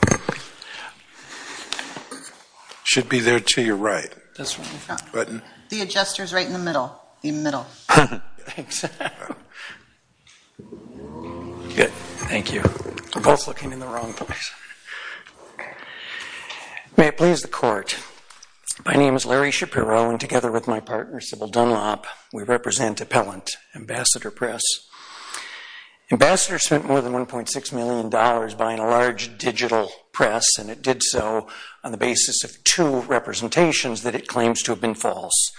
Larry Shapiro, Partner, Civil Dunlop, Appellant, Ambassador Press, Inc. Ambassador spent more than $1.6 million buying a large digital press, and it did so on the basis of two representations that it claims to have been false.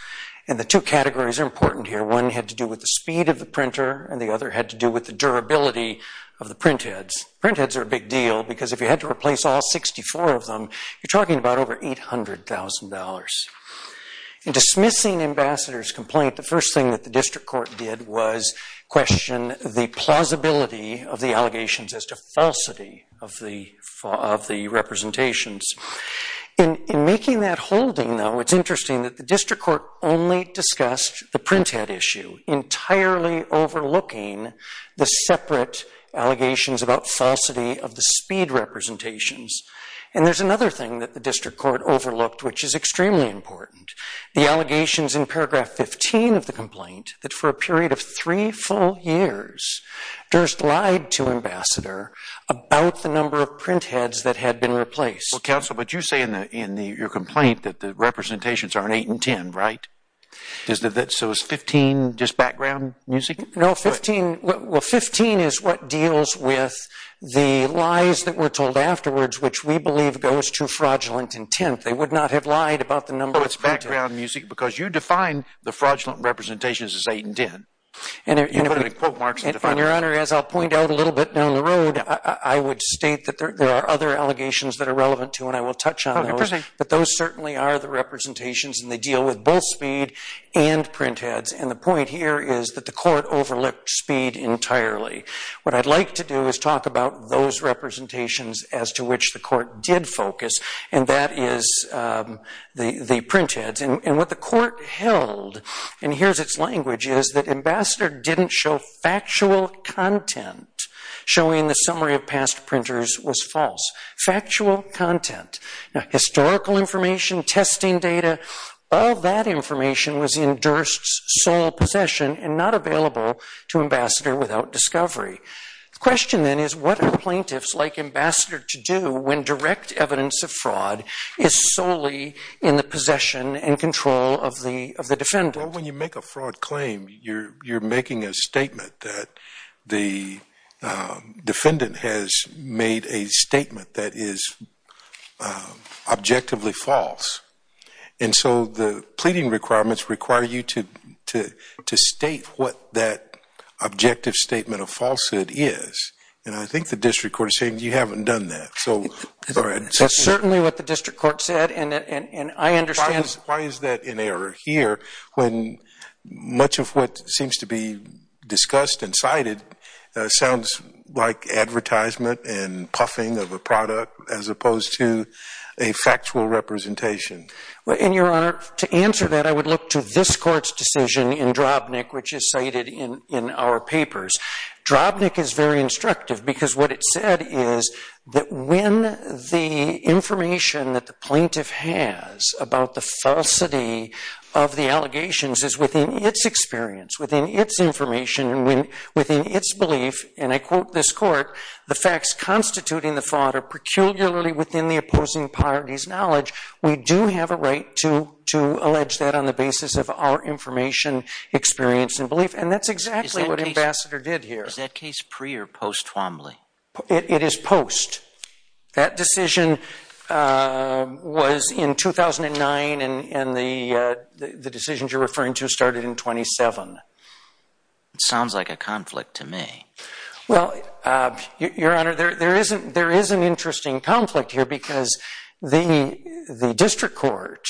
And the two categories are important here. One had to do with the speed of the printer, and the other had to do with the durability of the printheads. Printheads are a big deal, because if you had to replace all 64 of them, you're talking about over $800,000. In dismissing Ambassador's complaint, the first thing that the district court did was question the plausibility of the allegations as to falsity of the representations. In making that holding, though, it's interesting that the district court only discussed the printhead issue, entirely overlooking the separate allegations about falsity of the speed representations. And there's another thing that the district court overlooked, which is extremely important. The allegations in paragraph 15 of the complaint, that for a period of three full years, Durst lied to Ambassador about the number of printheads that had been replaced. Well, Counsel, but you say in your complaint that the representations are in 8 and 10, right? So is 15 just background music? No, 15 is what deals with the lies that were told afterwards, which we believe goes to fraudulent intent. They would not have lied about the number of printheads. Oh, it's background music, because you define the fraudulent representations as 8 and 10. You put in quote marks and define them. And, Your Honor, as I'll point out a little bit down the road, I would state that there are other allegations that are relevant, too, and I will touch on those. But those certainly are the representations, and they deal with both speed and printheads. And the point here is that the court overlooked speed entirely. What I'd like to do is talk about those representations as to which the court did focus, and that is the printheads. And what the court held, and here's its language, is that Ambassador didn't show factual content showing the summary of past printers was false. Factual content. Now, historical information, testing data, all that information was in Durst's sole possession and not available to Ambassador without discovery. The question, then, is what are plaintiffs like Ambassador to do when direct evidence of fraud is solely in the possession and control of the defendant? Well, when you make a fraud claim, you're making a statement that the defendant has made a statement that is objectively false. And so the pleading requirements require you to state what that objective statement of falsehood is. And I think the district court is saying you haven't done that. That's certainly what the district court said, and I understand. Why is that in error here when much of what seems to be discussed and cited sounds like advertisement and puffing of a product as opposed to a factual representation? In your honor, to answer that, I would look to this court's decision in Drobnik, which is cited in our papers. Drobnik is very instructive because what it said is that when the information that the plaintiff has about the falsity of the allegations is within its experience, within its information, and within its belief, and I quote this court, the facts constituting the fraud are peculiarly within the opposing party's knowledge. We do have a right to allege that on the basis of our information, experience, and belief. And that's exactly what Ambassador did here. Is that case pre or post Twombly? It is post. That decision was in 2009, and the decisions you're referring to started in 27. Sounds like a conflict to me. Well, your honor, there is an interesting conflict here because the district court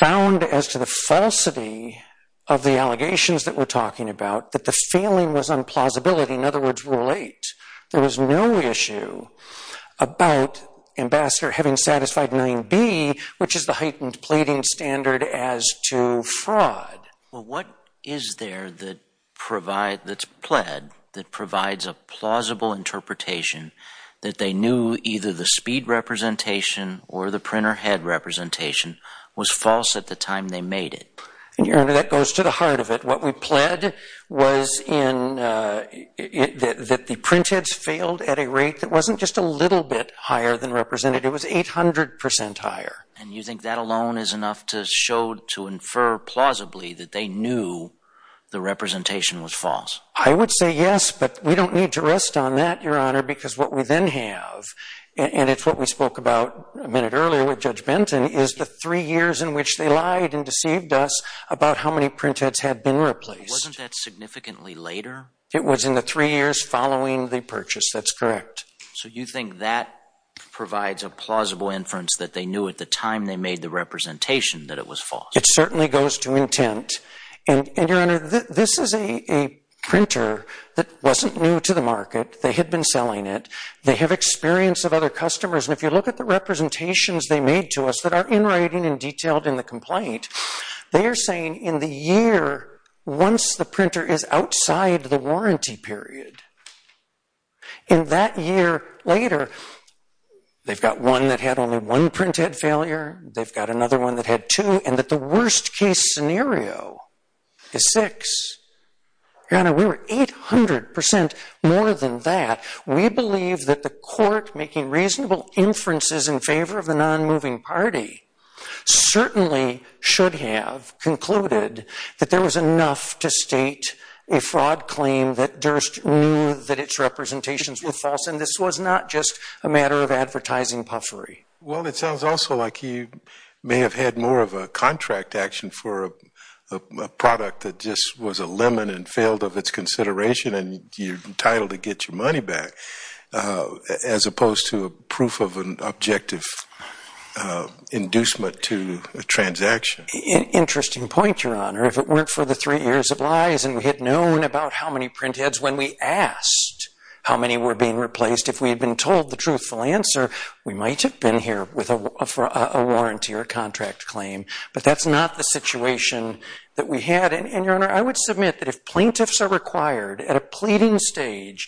found as to the falsity of the allegations that we're talking about, that the feeling was on plausibility. In other words, Rule 8, there was no issue about Ambassador having satisfied 9B, which is the heightened pleading standard as to fraud. Well, what is there that provides, that's pled, that provides a plausible interpretation that they knew either the speed representation or the printer head representation was false at the time they made it? And your honor, that goes to the heart of it. What we pled was in that the print heads failed at a rate that wasn't just a little bit higher than represented. It was 800% higher. And you think that alone is enough to show, to infer plausibly that they knew the representation was false? I would say yes, but we don't need to rest on that, your honor, because what we then have, and it's what we spoke about a minute earlier with Judge Benton, is the three years in which they lied and deceived us about how many print heads had been replaced. Wasn't that significantly later? It was in the three years following the purchase. That's correct. So you think that provides a plausible inference that they knew at the time they made the representation that it was false? It certainly goes to intent. And your honor, this is a printer that wasn't new to the market. They had been selling it. They have experience of other customers. And if you look at the representations they made to us that are in writing and detailed in the complaint, they are saying in the year once the printer is outside the warranty period, in that year later, they've got one that had only one print head failure. They've got another one that had two, and that the worst case scenario is six. Your honor, we were 800% more than that. We believe that the court making reasonable inferences in favor of the non-moving party certainly should have concluded that there was enough to state a fraud claim that Durst knew that its representations were false. And this was not just a matter of advertising puffery. Well, it sounds also like you may have had more of a contract action for a product that just was a lemon and failed of its consideration, and you're entitled to get your money back, as opposed to a proof of an objective inducement to a transaction. Interesting point, your honor. If it weren't for the three years of lies and we had known about how many print heads when we asked how many were being replaced, if we had been told the truthful answer, we might have been here with a warranty or a contract claim, but that's not the situation that we had. And your honor, I would submit that if plaintiffs are required at a pleading stage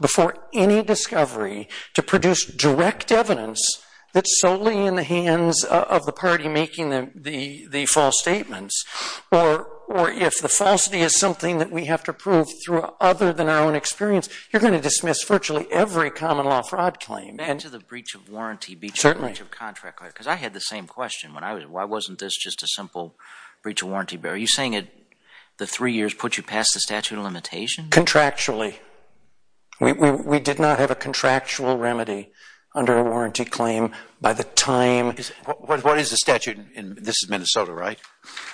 before any discovery to produce direct evidence that's solely in the hands of the party making the false statements, or if the falsity is something that we have to prove through other than our own experience, you're going to dismiss virtually every common law fraud claim. Back to the breach of warranty, breach of contract, because I had the same question when I was, why wasn't this just a simple breach of warranty, are you saying the three years put you past the statute of limitations? Contractually. We did not have a contractual remedy under a warranty claim by the time... What is the statute in, this is Minnesota, right?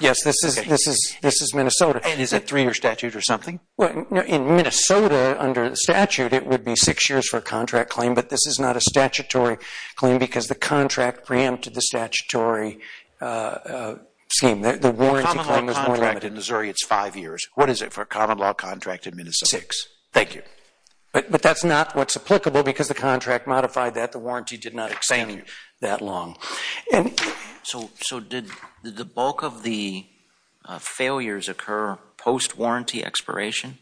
Yes, this is Minnesota. And is it a three-year statute or something? In Minnesota, under the statute, it would be six years for a contract claim, but this is not a statutory claim because the contract preempted the statutory scheme. The warranty claim was more limited. For a common law contract in Missouri, it's five years, what is it for a common law contract in Minnesota? Six. Thank you. But that's not what's applicable because the contract modified that, the warranty did not extend that long. So did the bulk of the failures occur post-warranty expiration?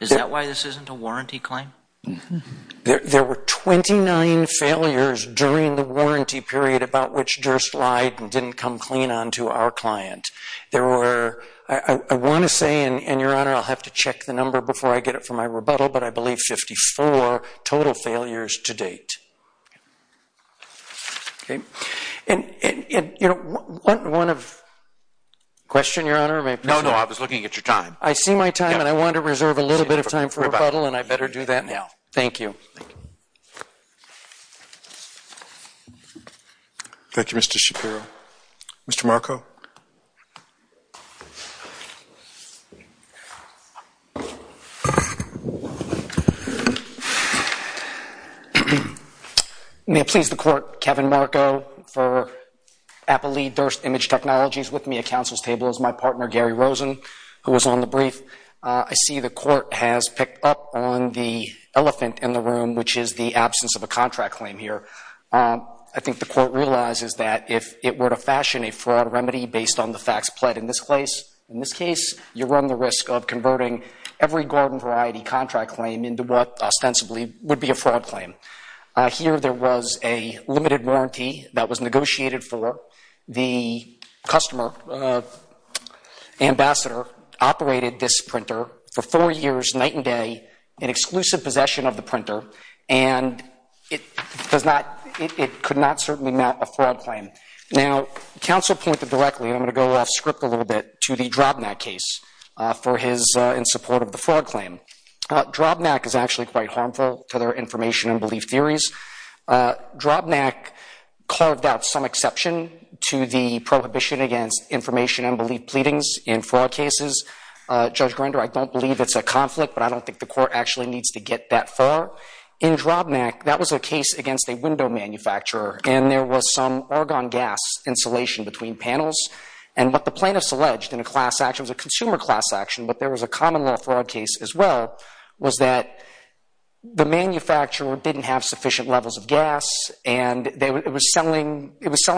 Is that why this isn't a warranty claim? There were 29 failures during the warranty period about which Durst lied and didn't come clean on to our client. There were, I want to say, and Your Honor, I'll have to check the number before I get it for my rebuttal, but I believe 54 total failures to date. Okay. And, you know, one of, question, Your Honor, or may I proceed? No, no, I was looking at your time. I see my time and I want to reserve a little bit of time for rebuttal and I better do that now. Thank you. Thank you, Mr. Shapiro. Mr. Marco? May it please the Court, Kevin Marco for Appley Durst Image Technologies with me at Council's my partner Gary Rosen, who was on the brief. I see the Court has picked up on the elephant in the room, which is the absence of a contract claim here. I think the Court realizes that if it were to fashion a fraud remedy based on the facts pled in this case, you run the risk of converting every Gordon Variety contract claim into what ostensibly would be a fraud claim. Here there was a limited warranty that was negotiated for. The customer, Ambassador, operated this printer for four years, night and day, in exclusive possession of the printer, and it does not, it could not certainly match a fraud claim. Now, Council pointed directly, and I'm going to go off script a little bit, to the Drobnak case for his, in support of the fraud claim. Drobnak is actually quite harmful to their information and belief theories. Drobnak carved out some exception to the prohibition against information and belief pleadings in fraud cases. Judge Grinder, I don't believe it's a conflict, but I don't think the Court actually needs to get that far. In Drobnak, that was a case against a window manufacturer, and there was some argon gas insulation between panels, and what the plaintiffs alleged in a class action, it was a consumer class action, but there was a common law fraud case as well, was that the manufacturer didn't have sufficient levels of gas, and it was selling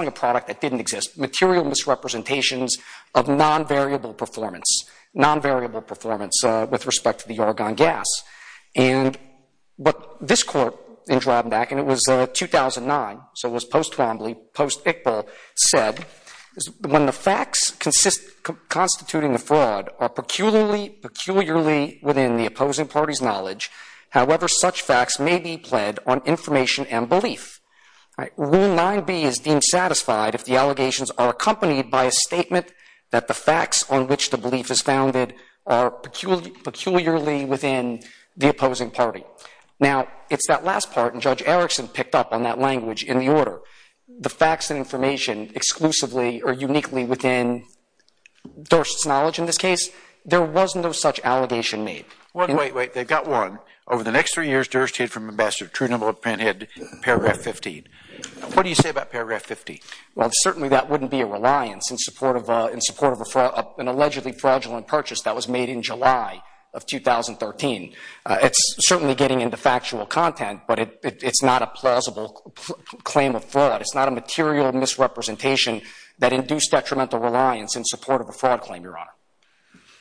a product that didn't exist. Material misrepresentations of non-variable performance, non-variable performance with respect to the argon gas. This Court in Drobnak, and it was 2009, so it was post-Twombly, post-Iqbal, said, when the facts constituting the fraud are peculiarly within the opposing party's knowledge, however such facts may be pled on information and belief. Rule 9b is deemed satisfied if the allegations are accompanied by a statement that the facts on which the belief is founded are peculiarly within the opposing party. Now it's that last part, and Judge Erickson picked up on that language in the order. The facts and information exclusively or uniquely within Durst's knowledge in this case, there was no such allegation made. Wait, wait, wait, they've got one. Over the next three years, Durst hid from Ambassador Trudeau and had paragraph 15. What do you say about paragraph 15? Well, certainly that wouldn't be a reliance in support of an allegedly fraudulent purchase that was made in July of 2013. It's certainly getting into factual content, but it's not a plausible claim of fraud. It's not a material misrepresentation that induced detrimental reliance in support of a fraud claim, Your Honor.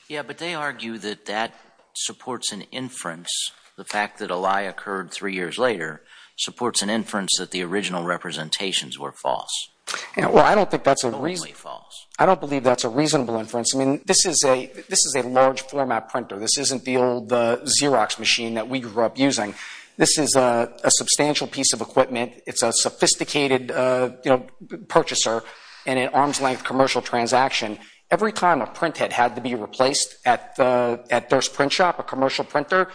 Yeah, but they argue that that supports an inference, the fact that a lie occurred three years later supports an inference that the original representations were false. Well, I don't think that's a reasonable inference. I mean, this is a large format printer. This isn't the old Xerox machine that we grew up using. This is a substantial piece of equipment. It's a sophisticated purchaser in an arm's length commercial transaction. Every time a print head had to be replaced at Durst's print shop, a commercial printer,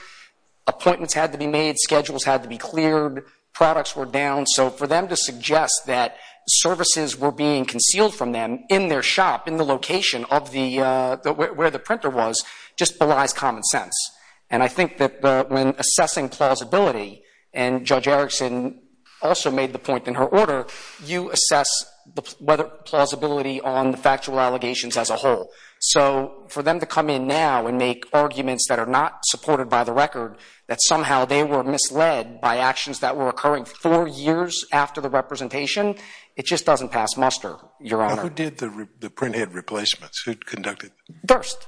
appointments had to be made, schedules had to be cleared, products were down. So for them to suggest that services were being concealed from them in their shop, in just belies common sense. And I think that when assessing plausibility, and Judge Erickson also made the point in her order, you assess whether plausibility on the factual allegations as a whole. So for them to come in now and make arguments that are not supported by the record, that somehow they were misled by actions that were occurring four years after the representation, it just doesn't pass muster, Your Honor. Who did the print head replacements? Who conducted them? Durst.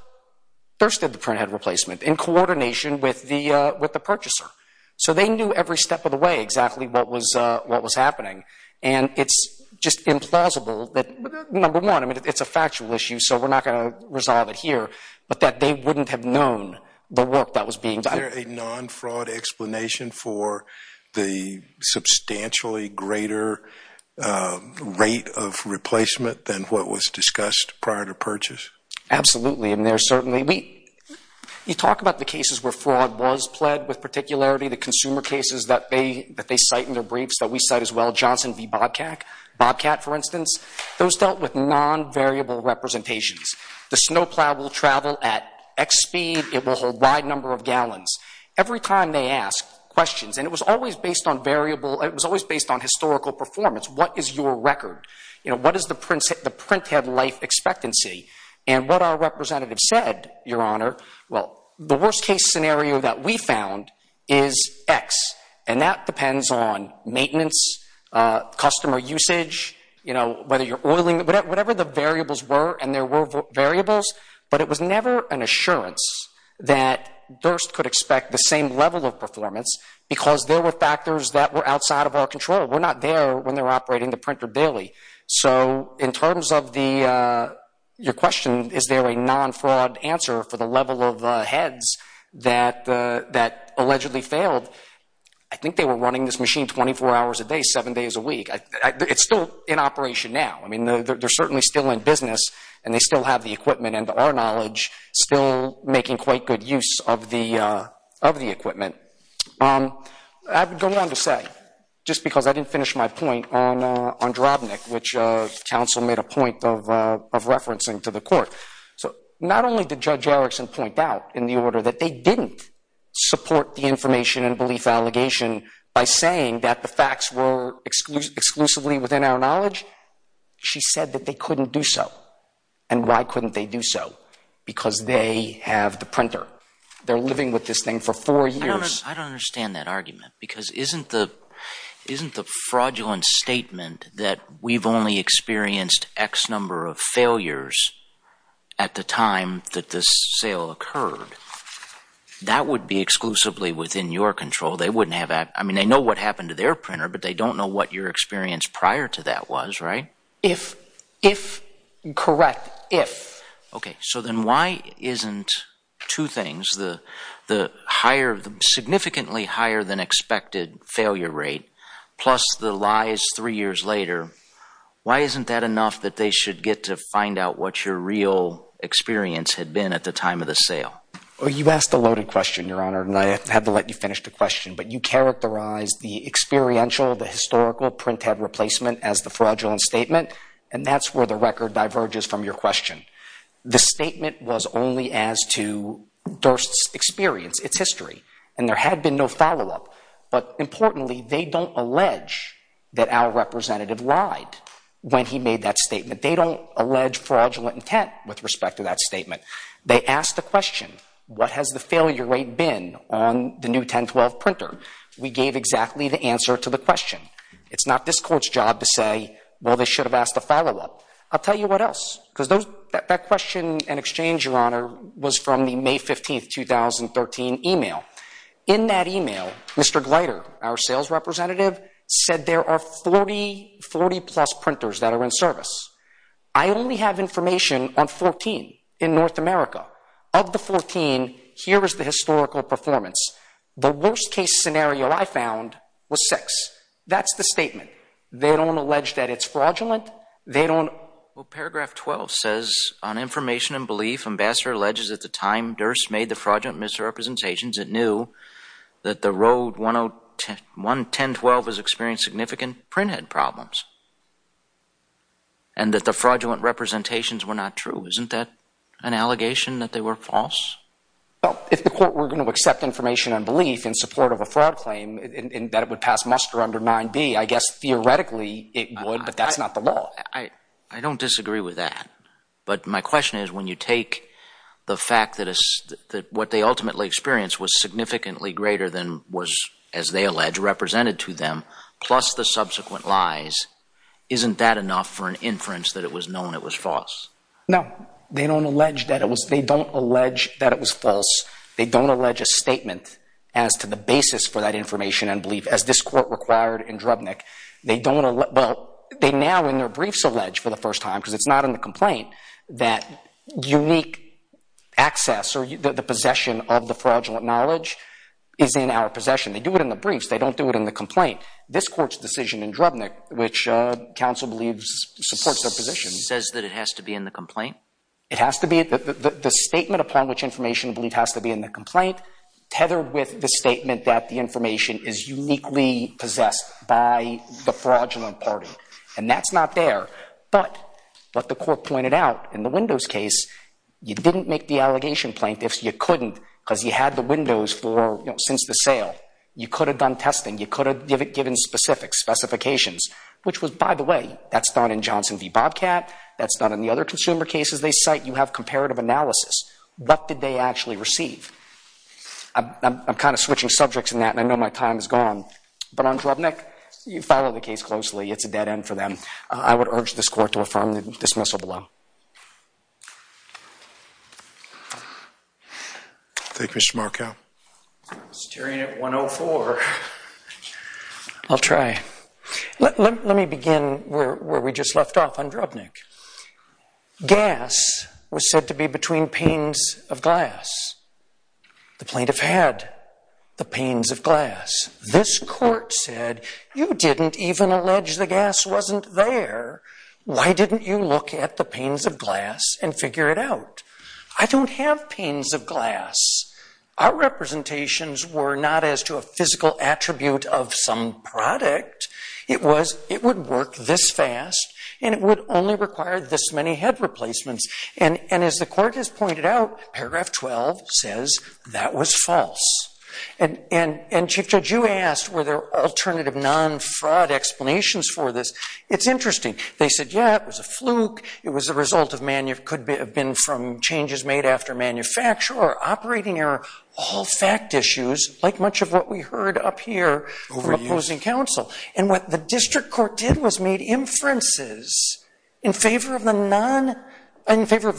Durst did the print head replacement in coordination with the purchaser. So they knew every step of the way exactly what was happening. And it's just implausible that, number one, I mean, it's a factual issue, so we're not going to resolve it here, but that they wouldn't have known the work that was being done. Is there a non-fraud explanation for the substantially greater rate of replacement than what was discussed prior to purchase? Absolutely. And there certainly—you talk about the cases where fraud was pled with particularity, the consumer cases that they cite in their briefs that we cite as well, Johnson v. Bobcat, for instance. Those dealt with non-variable representations. The snowplow will travel at X speed. It will hold Y number of gallons. Every time they ask questions—and it was always based on variable—it was always based on historical performance. What is your record? What is the print head life expectancy? And what our representative said, Your Honor, well, the worst case scenario that we found is X, and that depends on maintenance, customer usage, whether you're oiling—whatever the variables were, and there were variables, but it was never an assurance that Durst could expect the same level of performance because there were factors that were outside of our control. We're not there when they're operating the printer daily. So in terms of the—your question, is there a non-fraud answer for the level of heads that allegedly failed? I think they were running this machine 24 hours a day, 7 days a week. It's still in operation now. I mean, they're certainly still in business, and they still have the equipment and our knowledge still making quite good use of the equipment. I would go on to say, just because I didn't finish my point on Drobnik, which counsel made a point of referencing to the court, so not only did Judge Erickson point out in the order that they didn't support the information and belief allegation by saying that the facts were exclusively within our knowledge, she said that they couldn't do so. And why couldn't they do so? Because they have the printer. They're living with this thing for four years. I don't understand that argument, because isn't the fraudulent statement that we've only experienced X number of failures at the time that this sale occurred, that would be exclusively within your control? They wouldn't have—I mean, they know what happened to their printer, but they don't know what your experience prior to that was, right? If—if—correct, if. Okay. So then why isn't two things, the higher—the significantly higher than expected failure rate, plus the lies three years later, why isn't that enough that they should get to find out what your real experience had been at the time of the sale? Well, you've asked a loaded question, Your Honor, and I have to let you finish the question, but you characterized the experiential, the historical printhead replacement as the fraudulent statement, and that's where the record diverges from your question. The statement was only as to Durst's experience, its history, and there had been no follow-up. But importantly, they don't allege that our representative lied when he made that statement. They don't allege fraudulent intent with respect to that statement. They asked the question, what has the failure rate been on the new 1012 printer? We gave exactly the answer to the question. It's not this Court's job to say, well, they should have asked a follow-up. I'll tell you what else, because those—that question and exchange, Your Honor, was from the May 15, 2013 email. In that email, Mr. Gleiter, our sales representative, said there are 40—40-plus printers that are in service. I only have information on 14 in North America. Of the 14, here is the historical performance. The worst-case scenario I found was six. That's the statement. They don't allege that it's fraudulent. They don't— Well, paragraph 12 says, on information and belief, Ambassador alleges at the time Durst made the fraudulent misrepresentations, it knew that the Rode 11012 was experiencing significant printhead problems and that the fraudulent representations were not true. Isn't that an allegation that they were false? Well, if the Court were going to accept information and belief in support of a fraud claim and that it would pass muster under 9b, I guess theoretically it would, but that's not the law. I don't disagree with that. But my question is, when you take the fact that what they ultimately experienced was significantly greater than was, as they allege, represented to them, plus the subsequent lies, isn't that enough for an inference that it was known it was false? No. They don't allege that it was—they don't allege that it was false. They don't allege a statement as to the basis for that information and belief, as this Court required in Drubnik. They don't—well, they now in their briefs allege for the first time, because it's not in the complaint, that unique access or the possession of the fraudulent knowledge is in our possession. They do it in the briefs. They don't do it in the complaint. This Court's decision in Drubnik, which counsel believes supports their position— Says that it has to be in the complaint? It has to be—the statement upon which information and belief has to be in the complaint, tethered with the statement that the information is uniquely possessed by the fraudulent party. And that's not there. But what the Court pointed out in the Windows case, you didn't make the allegation, plaintiffs, you couldn't, because you had the Windows for, you know, since the sale. You could have done testing. You could have given specific specifications, which was, by the way, that's done in Johnson v. Bobcat. That's not in the other consumer cases they cite. You have comparative analysis. What did they actually receive? I'm kind of switching subjects in that, and I know my time is gone. But on Drubnik, you follow the case closely. It's a dead end for them. I would urge this Court to affirm the dismissal below. Thank you, Mr. Markell. I'm staring at 104. I'll try. Let me begin where we just left off on Drubnik. Gas was said to be between panes of glass. The plaintiff had the panes of glass. This Court said, you didn't even allege the gas wasn't there. Why didn't you look at the panes of glass and figure it out? I don't have panes of glass. Our representations were not as to a physical attribute of some product. It would work this fast, and it would only require this many head replacements. As the Court has pointed out, paragraph 12 says that was false. Chief Judge, you asked were there alternative non-fraud explanations for this. It's interesting. They said, yeah, it was a fluke. It could have been from changes made after manufacture or operating error, all fact issues, like much of what we heard up here from opposing counsel. What the district court did was made inferences in favor of the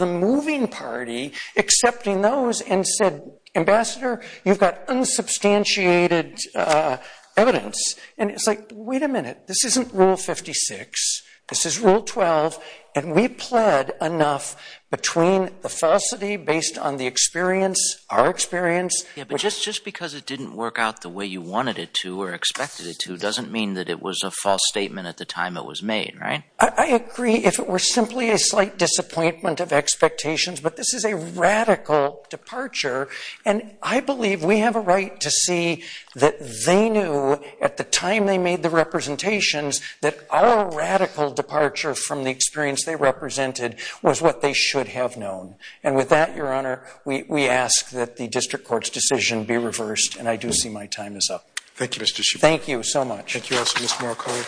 moving party, accepting those, and said, ambassador, you've got unsubstantiated evidence. It's like, wait a minute. This isn't Rule 56. This is Rule 12, and we pled enough between the falsity based on the experience, our experience. Yeah, but just because it didn't work out the way you wanted it to or expected it to doesn't mean that it was a false statement at the time it was made, right? I agree if it were simply a slight disappointment of expectations, but this is a radical departure. And I believe we have a right to see that they knew at the time they made the representations that our radical departure from the experience they represented was what they should have known. And with that, Your Honor, we ask that the district court's decision be reversed, and I do see my time is up. Thank you, Mr. Schiff. Thank you so much. Thank you also, Mr. Markov.